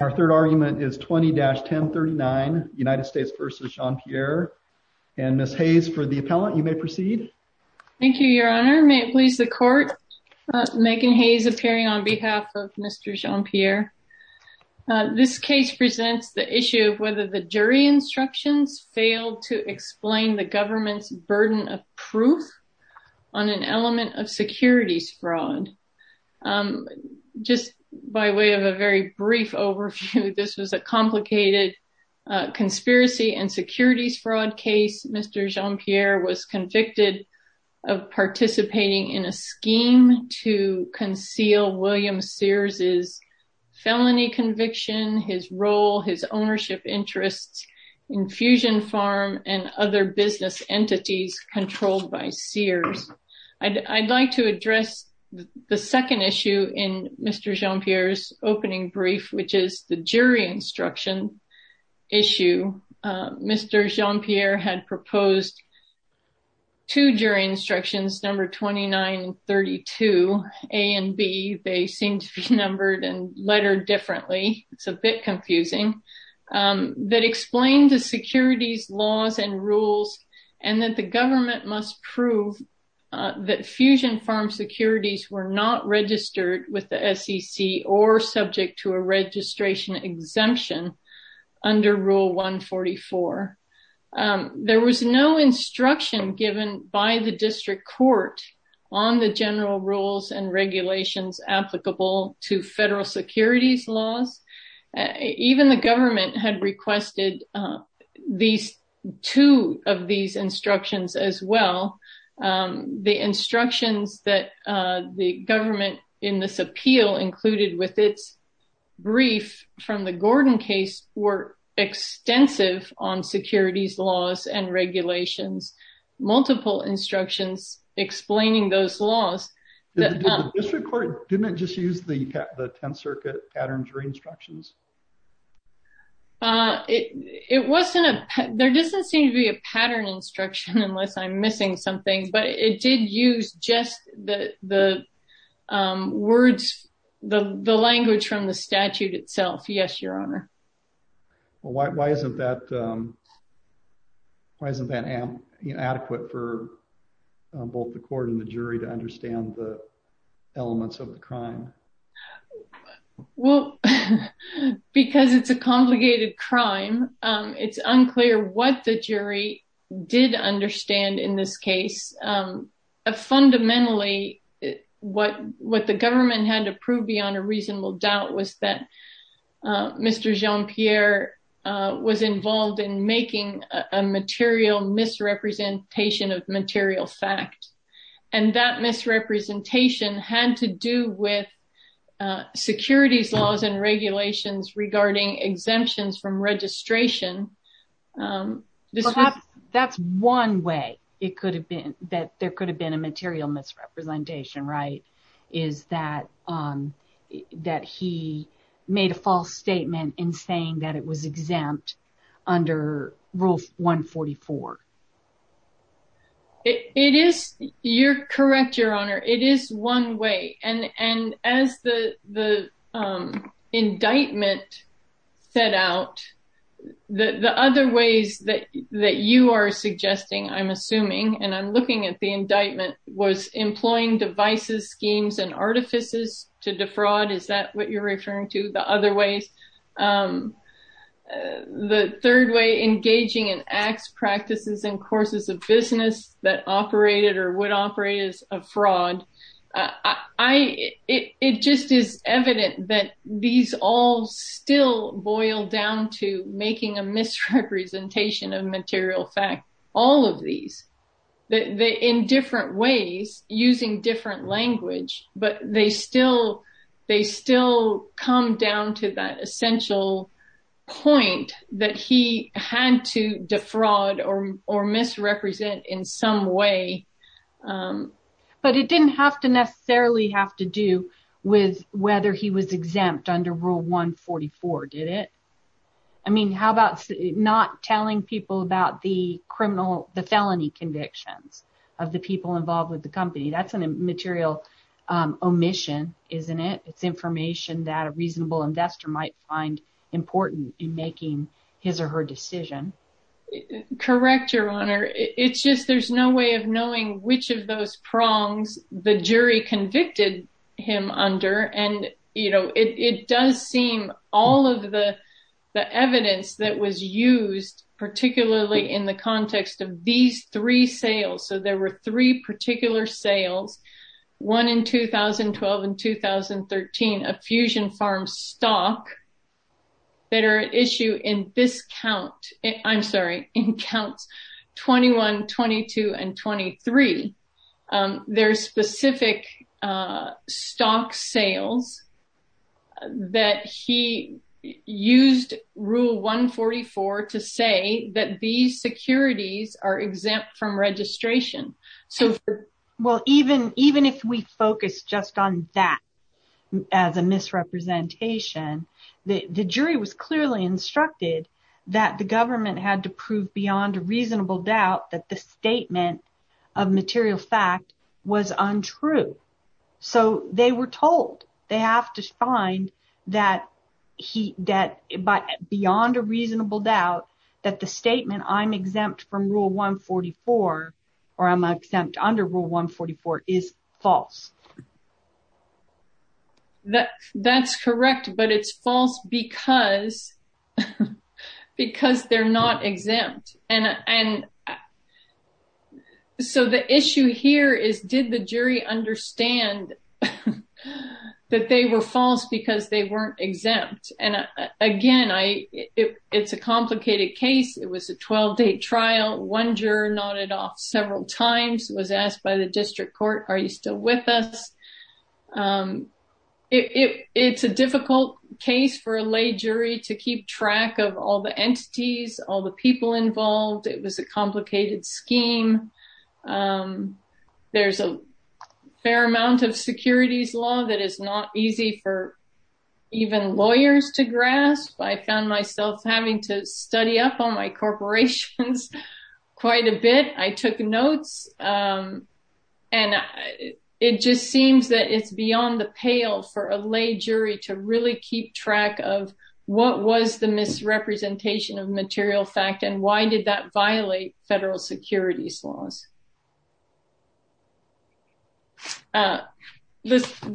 Our third argument is 20-1039 United States v. Jean-Pierre and Ms. Hayes for the appellant you may proceed. Thank you your honor, may it please the court Megan Hayes appearing on behalf of Mr. Jean-Pierre. This case presents the issue of whether the jury instructions failed to explain the government's burden of proof on an element of securities fraud. Just by way of a very brief overview, this was a complicated conspiracy and securities fraud case. Mr. Jean-Pierre was convicted of participating in a scheme to conceal William Sears' felony conviction, his role, his ownership interests, Infusion Farm and other business entities controlled by Sears. I'd like to address the second issue in Mr. Jean-Pierre's opening brief, which is the jury instruction issue. Mr. Jean-Pierre had proposed two jury instructions number 2932 A and B, they seem to be numbered and lettered differently, it's a bit confusing, that explain the securities laws and rules and that the government must prove that Fusion Farm securities were not registered with the SEC or subject to a registration exemption under rule 144. There was no instruction given by the district court on the general rules and regulations applicable to federal securities laws. Even the government had requested these two of these instructions as well. The instructions that the government in this appeal included with its brief from the Gordon case were extensive on securities laws and regulations, multiple instructions explaining those laws. The district court didn't just use the 10th Circuit patterns or instructions? It wasn't, there doesn't seem to be a pattern instruction unless I'm missing something, but it did use just the words, the language from the statute itself, yes, your honor. Well, why isn't that, why isn't that adequate for both the court and the jury to understand the elements of the crime? Well, because it's a complicated crime, it's unclear what the jury did understand in this case. Fundamentally, what the government had to prove beyond a reasonable doubt was that Mr. Jean-Pierre was involved in making a material misrepresentation of material fact, and that misrepresentation had to do with securities laws and regulations regarding exemptions from registration. Perhaps that's one way that there could have been a material misrepresentation, right? Is that, that he made a false statement in saying that it was exempt under Rule 144? It is, you're correct, your honor, it is one way. And as the indictment set out, the other ways that you are suggesting, I'm assuming, and artifices to defraud, is that what you're referring to, the other ways? The third way, engaging in acts, practices, and courses of business that operated or would operate as a fraud, it just is evident that these all still boil down to making a misrepresentation of material fact. All of these, in different ways, using different language, but they still come down to that essential point that he had to defraud or misrepresent in some way. But it didn't have to necessarily have to do with whether he was exempt under Rule 144, did it? I mean, how about not telling people about the criminal, the felony convictions of the people involved with the company? That's a material omission, isn't it? It's information that a reasonable investor might find important in making his or her decision. Correct, your honor. It's just there's no way of knowing which of those prongs the jury convicted him under. And, you know, it does seem all of the evidence that was used, particularly in the context of these three sales. So there were three particular sales, one in 2012 and 2013, of Fusion Farms stock, that are at issue in this count, I'm sorry, in counts 21, 22, and 23. There are specific stock sales that he used Rule 144 to say that these securities are exempt from registration. So, well, even if we focus just on that as a misrepresentation, the jury was clearly instructed that the government had to prove beyond a reasonable doubt that the statement of material fact was untrue. So they were told they have to find that he that beyond a reasonable doubt that the statement I'm exempt from Rule 144 or I'm exempt under Rule 144 is false. That that's correct, but it's false because because they're not exempt. And so the issue here is, did the jury understand that they were false because they weren't exempt? And again, it's a complicated case. It was a 12-day trial. One juror nodded off several times, was asked by the district court, are you still with us? It's a difficult case for a lay jury to keep track of all the entities, all the people involved. It was a complicated scheme. There's a fair amount of securities law that is not easy for even lawyers to grasp. I found myself having to study up on my corporations quite a bit. I took notes and it just seems that it's beyond the pale for a lay jury to really keep track of what was the misrepresentation of material fact and why did that violate federal securities laws? The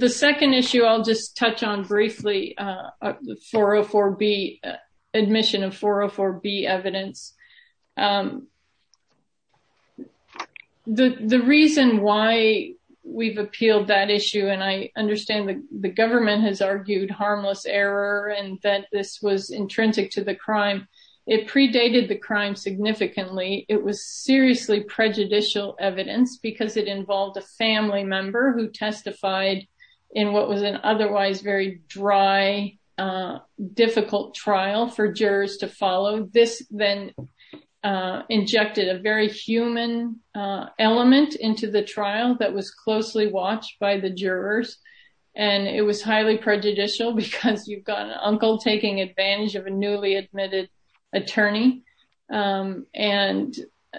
second issue I'll just touch on briefly, the admission of 404B evidence. The reason why we've appealed that issue, and I understand the government has argued harmless error and that this was intrinsic to the crime, it predated the crime significantly. It was seriously prejudicial evidence because it involved a family member who testified in what was an otherwise very dry, difficult trial for jurors to follow. This then injected a very human element into the trial that was closely watched by the trial, because you've got an uncle taking advantage of a newly admitted attorney. Isn't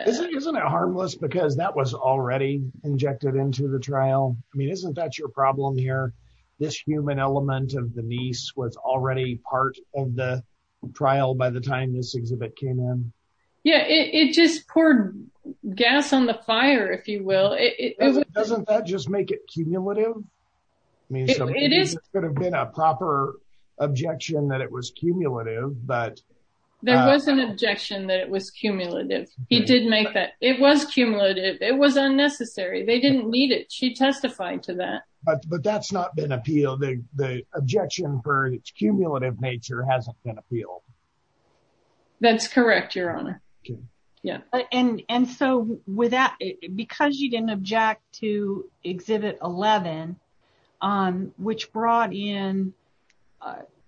it harmless because that was already injected into the trial? I mean, isn't that your problem here? This human element of the niece was already part of the trial by the time this exhibit came in. Yeah, it just poured gas on the fire, if you will. Doesn't that just make it cumulative? I mean, it could have been a proper objection that it was cumulative. There was an objection that it was cumulative. He did make that. It was cumulative. It was unnecessary. They didn't need it. She testified to that. But that's not been appealed. The objection for its cumulative nature hasn't been appealed. That's correct, Your Honor. And so because you didn't object to Exhibit 11, which brought in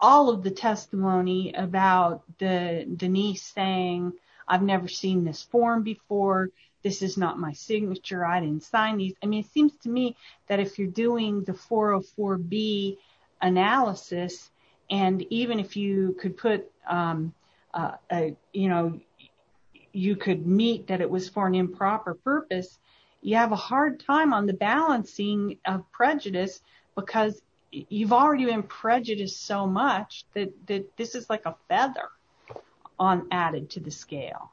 all of the testimony about Denise saying, I've never seen this form before, this is not my signature, I didn't sign these. I mean, it seems to me that if you're doing the 404B analysis and even if you could put, you know, you could meet that it was for an improper purpose, you have a hard time on the balancing of prejudice because you've already been prejudiced so much that this is like a feather added to the scale.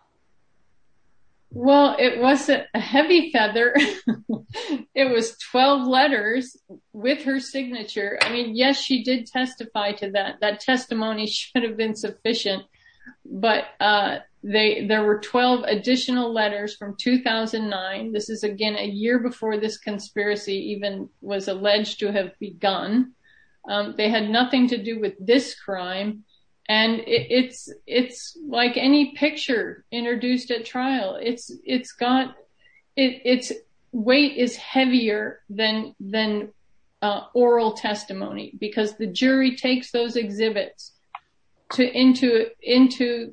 Well, it wasn't a heavy feather, it was 12 letters with her signature. I mean, yes, she did testify to that. That testimony should have been sufficient. But there were 12 additional letters from 2009. This is, again, a year before this conspiracy even was alleged to have begun. They had nothing to do with this crime. And it's like any picture introduced at trial. Its weight is heavier than oral testimony because the jury takes those exhibits into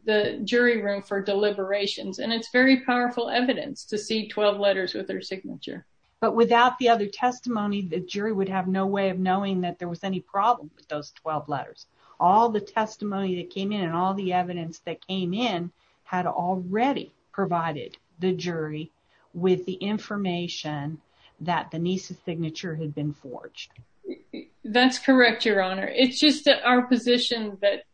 the jury room for deliberations. And it's very powerful evidence to see 12 letters with her signature. But without the other testimony, the jury would have no way of knowing that there was any problem with those 12 letters. All the testimony that came in and all the evidence that came in had already provided the jury with the information that Denise's signature had been forged. That's correct, Your Honor. It's just our position that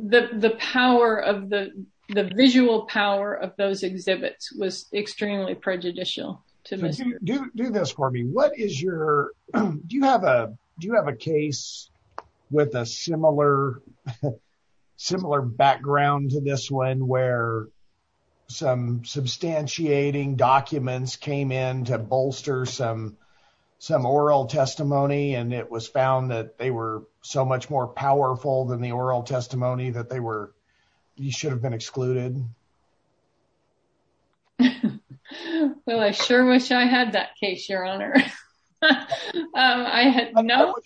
the power of the the visual power of those exhibits was extremely prejudicial. Do this for me. What is your do you have a do you have a case with a similar similar background to this one where some substantiating documents came in to bolster some some oral testimony and it was found that they were so much more powerful than the oral testimony that they were you should have been excluded. Well, I sure wish I had that case, Your Honor, I had no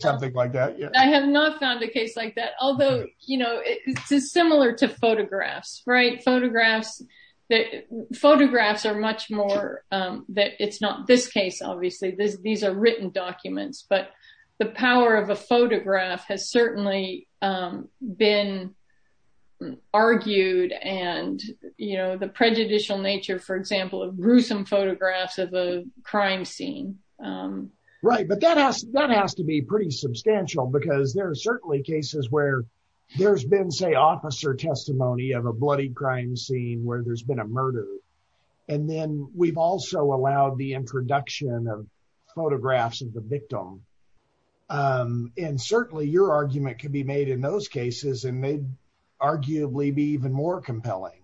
something like that, I have not found a case like that, although, you know, it's similar to photographs, right? Photographs that photographs are much more that it's not this case, obviously, these are written documents, but the power of a photograph has certainly been argued and argued and, you know, the prejudicial nature, for example, of gruesome photographs of a crime scene. Right. But that has that has to be pretty substantial because there are certainly cases where there's been, say, officer testimony of a bloody crime scene where there's been a murder. And then we've also allowed the introduction of photographs of the victim. And certainly your argument could be made in those cases and may arguably be even more compelling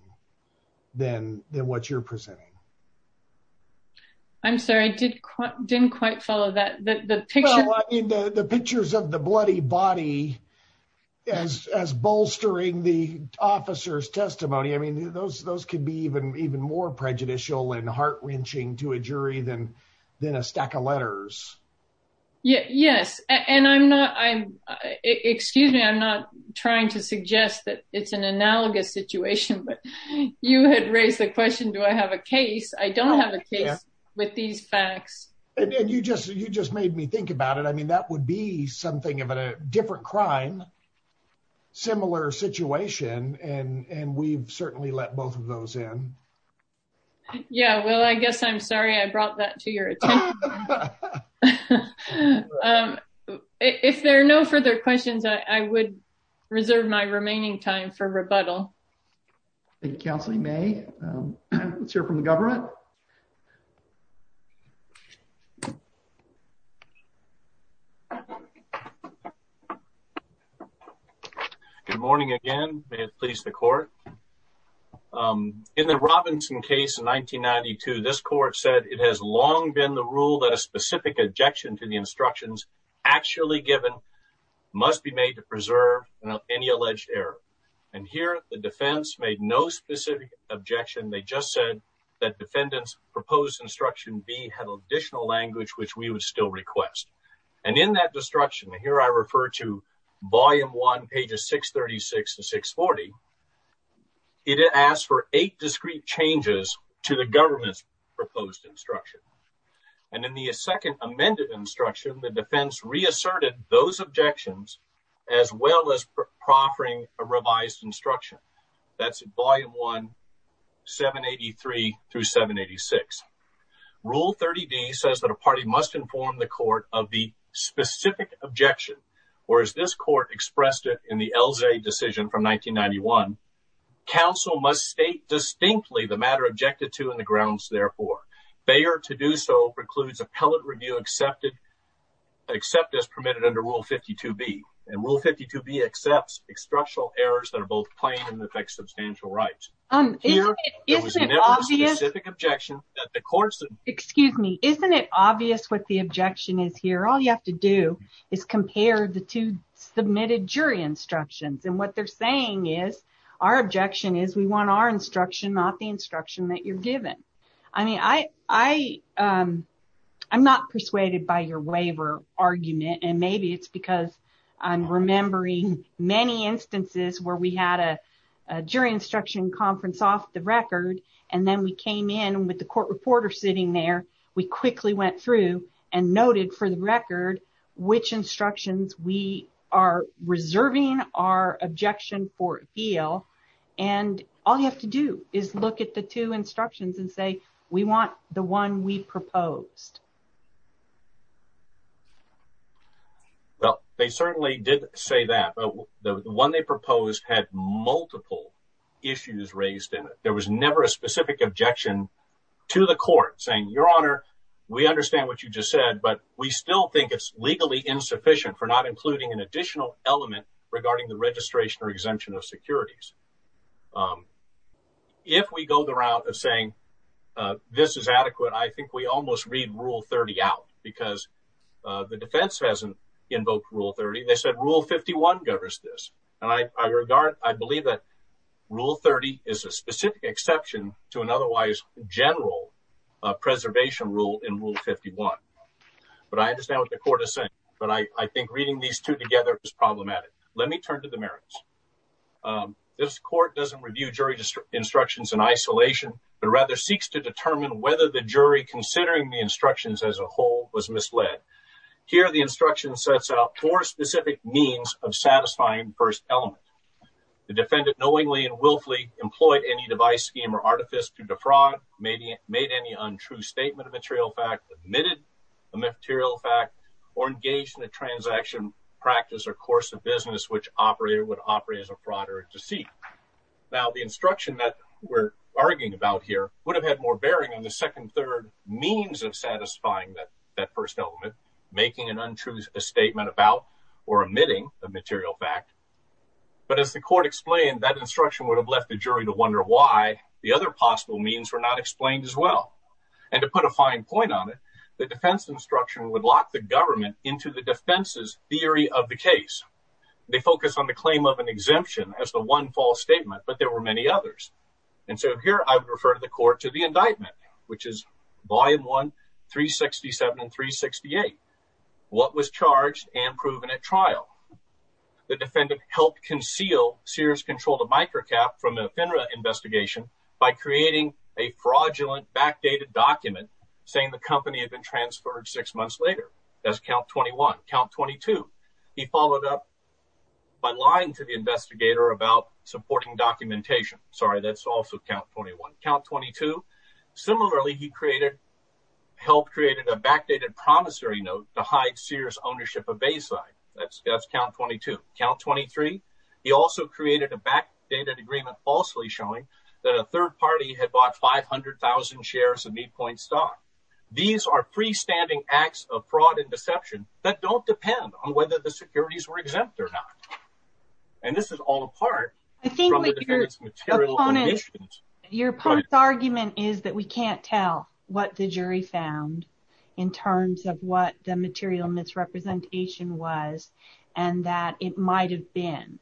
than than what you're presenting. I'm sorry, I did didn't quite follow that, the picture, the pictures of the bloody body as bolstering the officer's testimony, I mean, those those could be even even more prejudicial and heart wrenching to a jury than than a stack of letters. Yes. And I'm not I'm excuse me, I'm not trying to suggest that it's an analogous situation, but you had raised the question, do I have a case? I don't have a case with these facts. And you just you just made me think about it. I mean, that would be something of a different crime, similar situation. And we've certainly let both of those in. Yeah, well, I guess I'm sorry I brought that to your attention. But if there are no further questions, I would reserve my remaining time for rebuttal. Thank you, Counselor May. Let's hear from the government. Good morning again, may it please the court. In the Robinson case in 1992, this court said it has long been the rule that a specific objection to the instructions actually given must be made to preserve any alleged error. And here the defense made no specific objection. They just said that defendants proposed instruction B had additional language, which we would still request. And in that destruction here, I refer to volume one, pages 636 to 640. It asks for eight discrete changes to the government's proposed instruction. And in the second amended instruction, the defense reasserted those objections as well as proffering a revised instruction. That's volume one, 783 through 786. Rule 30D says that a party must inform the court of the specific objection, or as this counsel must state distinctly the matter objected to in the grounds. Therefore, fair to do so precludes appellate review excepted except as permitted under Rule 52B. And Rule 52B accepts instructional errors that are both plain and affect substantial rights. Excuse me, isn't it obvious what the objection is here? All you have to do is compare the two submitted jury instructions. And what they're saying is our objection is we want our instruction, not the instruction that you're given. I mean, I'm not persuaded by your waiver argument, and maybe it's because I'm remembering many instances where we had a jury instruction conference off the record. And then we came in with the court reporter sitting there. We quickly went through and noted for the record which instructions we are reserving our objection for appeal. And all you have to do is look at the two instructions and say, we want the one we proposed. Well, they certainly did say that, but the one they proposed had multiple issues raised in it. There was never a specific objection to the court saying, Your Honor, we understand what you just said, but we still think it's legally insufficient for not including an additional element regarding the registration or exemption of securities. If we go the route of saying this is adequate, I think we almost read Rule 30 out because the defense hasn't invoked Rule 30. They said Rule 51 governs this. And I regard, I believe that Rule 30 is a specific exception to an otherwise general preservation rule in Rule 51. But I understand what the court is saying, but I think reading these two together is problematic. Let me turn to the merits. This court doesn't review jury instructions in isolation, but rather seeks to determine whether the jury considering the instructions as a whole was misled. Here, the instruction sets out four specific means of satisfying first element. The defendant knowingly and willfully employed any device scheme or artifice to defraud, made any untrue statement of material fact, admitted a material fact, or engaged in a transaction, practice, or course of business which operator would operate as a fraud or deceit. Now, the instruction that we're arguing about here would have had more bearing on the second third means of satisfying that first element, making an untrue statement about or omitting a material fact. But as the court explained, that instruction would have left the jury to wonder why the other possible means were not explained as well. And to put a fine point on it, the defense instruction would lock the government into the defense's theory of the case. They focus on the claim of an exemption as the one false statement, but there were many others. And so here I would refer to the court to the indictment, which is Volume 1, 367 The defendant helped conceal Sears controlled a microcap from a FINRA investigation by creating a fraudulent backdated document saying the company had been transferred six months later. That's count 21. Count 22. He followed up by lying to the investigator about supporting documentation. Sorry, that's also count 21. Count 22. Similarly, he created help, created a backdated promissory note to hide Sears ownership of Bayside. That's count 22. Count 23. He also created a backdated agreement falsely showing that a third party had bought 500000 shares of Mead Point stock. These are freestanding acts of fraud and deception that don't depend on whether the securities were exempt or not. And this is all apart. I think your opponent's argument is that we can't tell what the jury found in terms of what the material misrepresentation was and that it might have been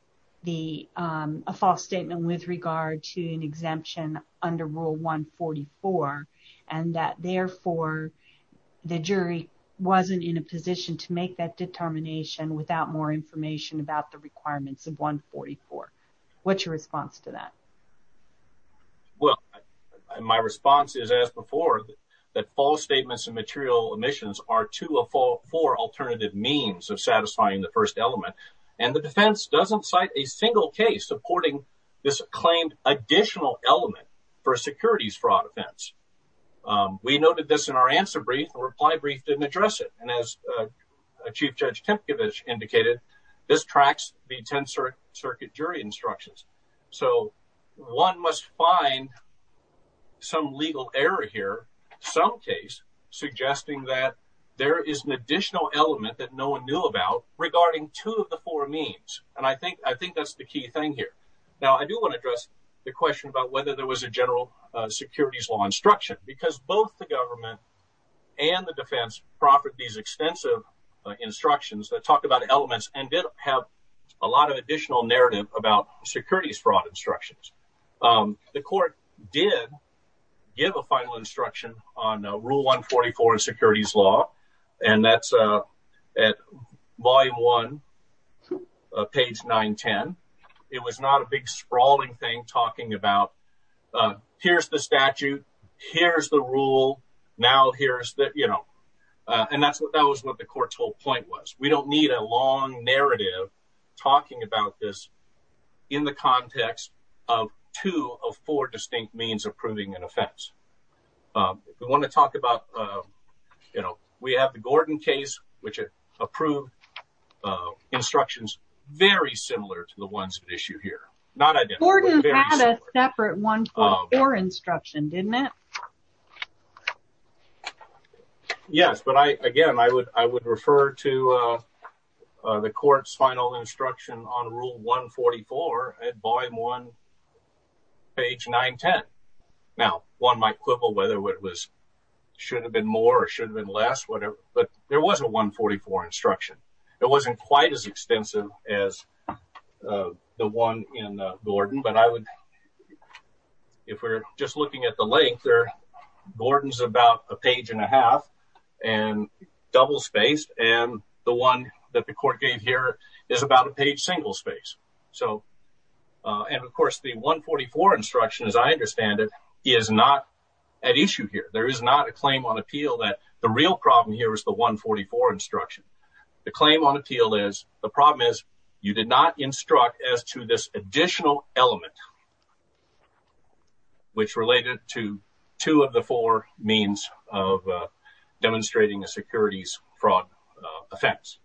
a false statement with regard to an exemption under Rule 144 and that therefore the jury wasn't in a position to make that determination without more information about the requirements of 144. What's your response to that? Well, my response is, as before, that false statements and material omissions are two or four alternative means of satisfying the first element, and the defense doesn't cite a single case supporting this claimed additional element for a securities fraud offense. We noted this in our answer brief. The reply brief didn't address it. And as Chief Judge Tempkiewicz indicated, this tracks the 10th Circuit jury instructions. So one must find some legal error here, some case suggesting that there is an additional element that no one knew about regarding two of the four means. And I think I think that's the key thing here. Now, I do want to address the question about whether there was a general securities law instruction, because both the government and the defense proffered these extensive instructions that talk about elements and did have a lot of additional narrative about securities fraud instructions. The court did give a final instruction on Rule 144 of securities law, and that's at Volume 1, page 910. It was not a big sprawling thing talking about here's the statute, here's the rule, now here's that, you know, and that's what that was what the court's whole point was. We don't need a long narrative talking about this in the context of two of four distinct means of proving an offense. We want to talk about, you know, we have the Gordon case, which approved instructions very similar to the ones at issue here. Not identical, but very similar. Gordon had a separate 144 instruction, didn't it? Yes, but again, I would refer to the court's final instruction on Rule 144 at Volume 1, page 910. Now, one might quibble whether it should have been more or should have been less, but there was a 144 instruction. It wasn't quite as extensive as the one in Gordon, but if we're just looking at the one in Gordon, it's about a page and a half and double spaced. And the one that the court gave here is about a page single space. So, and of course, the 144 instruction, as I understand it, is not at issue here. There is not a claim on appeal that the real problem here is the 144 instruction. The claim on appeal is the problem is you did not instruct as to this additional element, which related to two of the four means of demonstrating a securities fraud offense.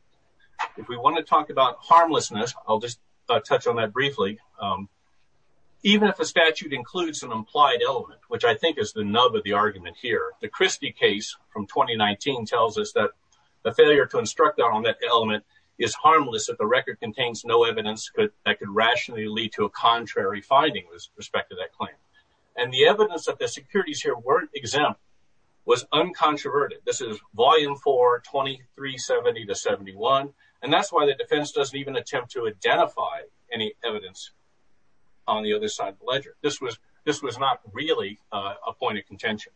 If we want to talk about harmlessness, I'll just touch on that briefly. Even if a statute includes an implied element, which I think is the nub of the argument here, the Christie case from 2019 tells us that the failure to instruct on that element is harmless if the record contains no evidence that could rationally lead to a contrary finding with respect to that claim. And the evidence that the securities here weren't exempt was uncontroverted. This is volume 4, 2370 to 71. And that's why the defense doesn't even attempt to identify any evidence on the other side of the ledger. This was not really a point of contention.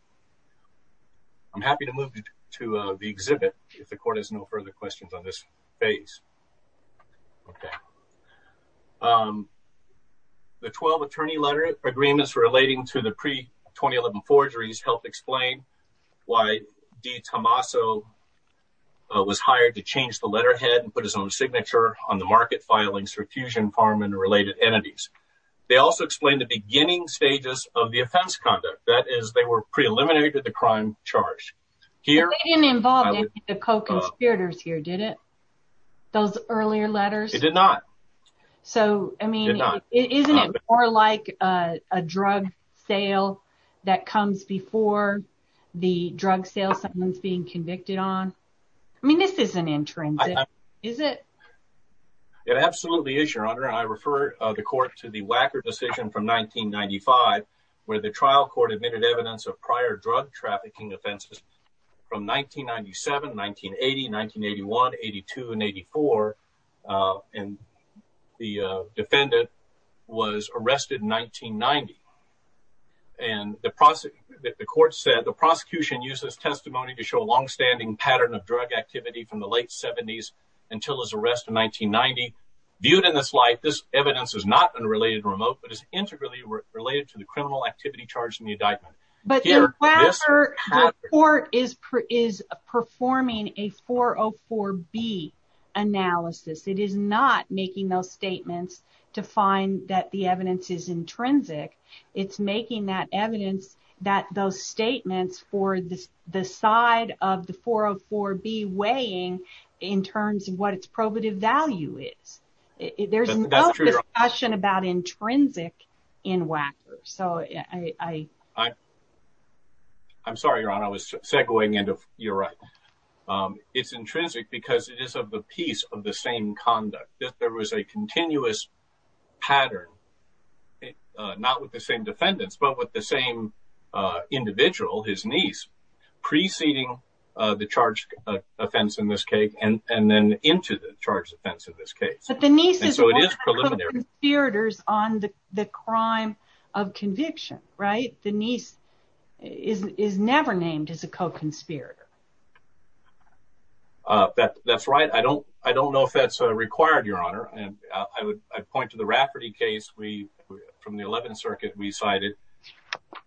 I'm happy to move to the exhibit if the court has no further questions on this phase. Okay. The 12 attorney letter agreements relating to the pre-2011 forgeries helped explain why D. Tommaso was hired to change the letterhead and put his own signature on the market filings for fusion farm and related entities. They also explained the beginning stages of the offense conduct. That is, they were pre-eliminated the crime charge. They didn't involve any of the co-conspirators here, did it? Those earlier letters? It did not. So, I mean, isn't it more like a drug sale that comes before the drug sale sentence being convicted on? I mean, this isn't intrinsic, is it? It absolutely is, your honor. I refer the court to the Wacker decision from 1995, where the trial court admitted evidence of prior drug trafficking offenses from 1997, 1980, 1981, 82, and 84. And the defendant was arrested in 1990. And the court said the prosecution used this testimony to show a longstanding pattern of drug activity from the late seventies until his arrest in 1990. Viewed in this light, this evidence is not unrelated to remote, but is related to the criminal activity charged in the indictment. But the Wacker report is performing a 404B analysis. It is not making those statements to find that the evidence is intrinsic. It's making that evidence that those statements for the side of the 404B weighing in terms of what its probative value is. There's no discussion about intrinsic in Wacker. So, I'm sorry, your honor, I was segwaying into, you're right. It's intrinsic because it is of the piece of the same conduct. There was a continuous pattern, not with the same defendants, but with the same individual, his niece, preceding the charged offense in this case and then into the charged offense in this case. But the niece is one of the co-conspirators on the crime of conviction, right? The niece is never named as a co-conspirator. That's right. I don't, I don't know if that's required, your honor. And I would point to the Rafferty case. We, from the 11th circuit, we cited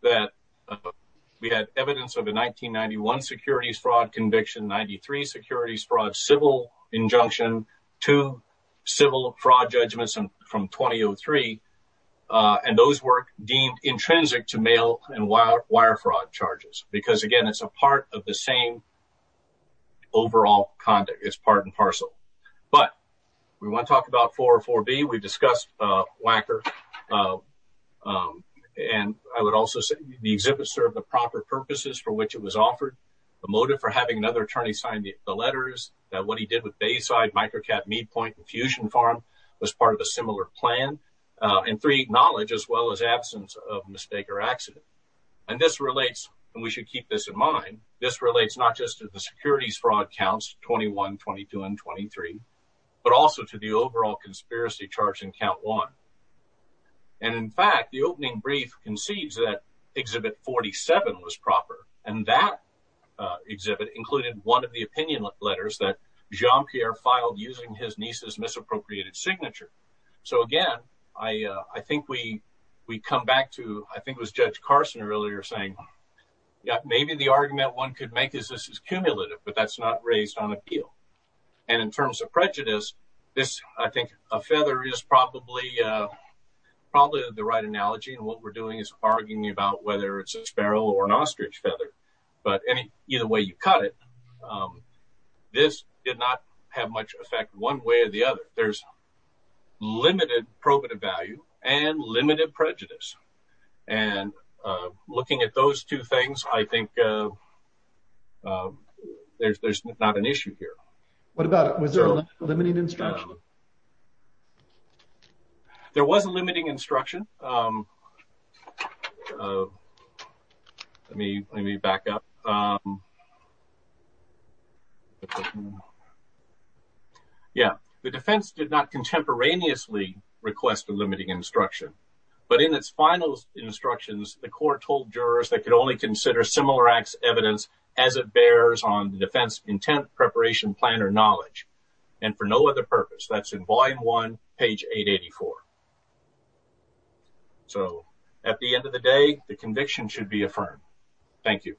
that we had evidence of the 1991 securities fraud conviction, 93 securities fraud, civil injunction, two civil fraud judgments from 2003. And those were deemed intrinsic to mail and wire fraud charges. Because again, it's a part of the same overall conduct. It's part and parcel. But we want to talk about 404B. We've discussed Wacker. And I would also say the exhibit served the proper purposes for which it was offered, the motive for having another attorney sign the letters, that what he did with Bayside, Microcat, Mead Point, and Fusion Farm was part of a similar plan. And three, knowledge as well as absence of mistake or accident. And this relates, and we should keep this in mind. This relates not just to the securities fraud counts 21, 22, and 23, but also to the overall conspiracy charge in count one. And in fact, the opening brief concedes that exhibit 47 was proper. And that exhibit included one of the opinion letters that Jean-Pierre filed using his niece's misappropriated signature. So again, I think we come back to, I think it was Judge Carson earlier saying, yeah, maybe the argument one could make is this is cumulative, but that's not raised on appeal. And in terms of prejudice, this, I think a feather is probably the right analogy. And what we're doing is arguing about whether it's a sparrow or an ostrich feather, but any, either way you cut it, this did not have much effect one way or the other. There's limited probative value and limited prejudice. And looking at those two things, I think there's not an issue here. What about, was there a limiting instruction? There was a limiting instruction. Let me, let me back up. Yeah. The defense did not contemporaneously request a limiting instruction, but in its final instructions, the court told jurors that could only consider similar acts evidence as it bears on the defense intent preparation plan or knowledge. And for no other purpose, that's in volume one, page 884. So at the end of the day, the conviction should be affirmed. Thank you.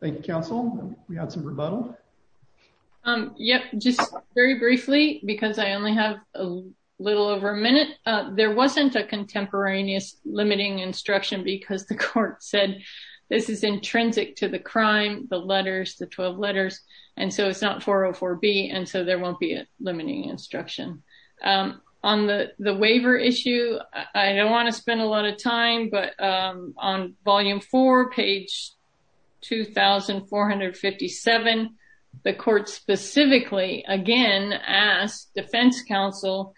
Thank you, counsel. We had some rebuttal. Yep. Just very briefly, because I only have a little over a minute. There wasn't a contemporaneous limiting instruction because the court said this is intrinsic to the crime, the letters, the 12 letters, and so it's not 404B. And so there won't be a limiting instruction. On the, the waiver issue, I don't want to spend a lot of time, but on volume four, page 2,457, the court specifically, again, asked defense counsel,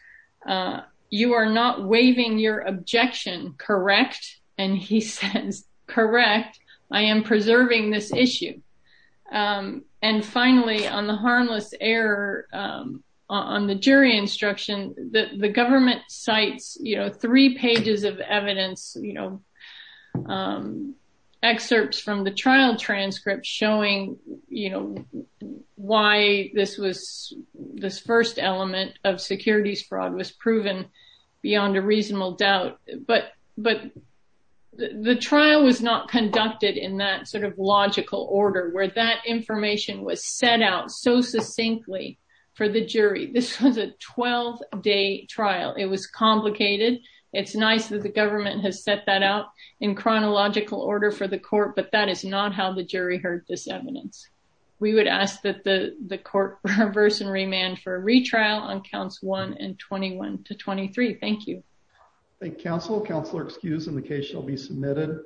you are not waiving your objection, correct? And he says, correct. I am preserving this issue. And finally, on the harmless error, on the jury instruction that the government cites, you know, three pages of evidence, you know, excerpts from the trial transcript showing, you know, why this was this first element of securities fraud was proven beyond a reasonable doubt. But, but the trial was not conducted in that sort of logical order where that information was set out so succinctly for the jury, this was a 12 day trial. It was complicated. It's nice that the government has set that out in chronological order for the court, but that is not how the jury heard this evidence. We would ask that the court reverse and remand for a retrial on counts one and 21 to 23. Thank you. Thank you, counsel. Counselor excused and the case shall be submitted.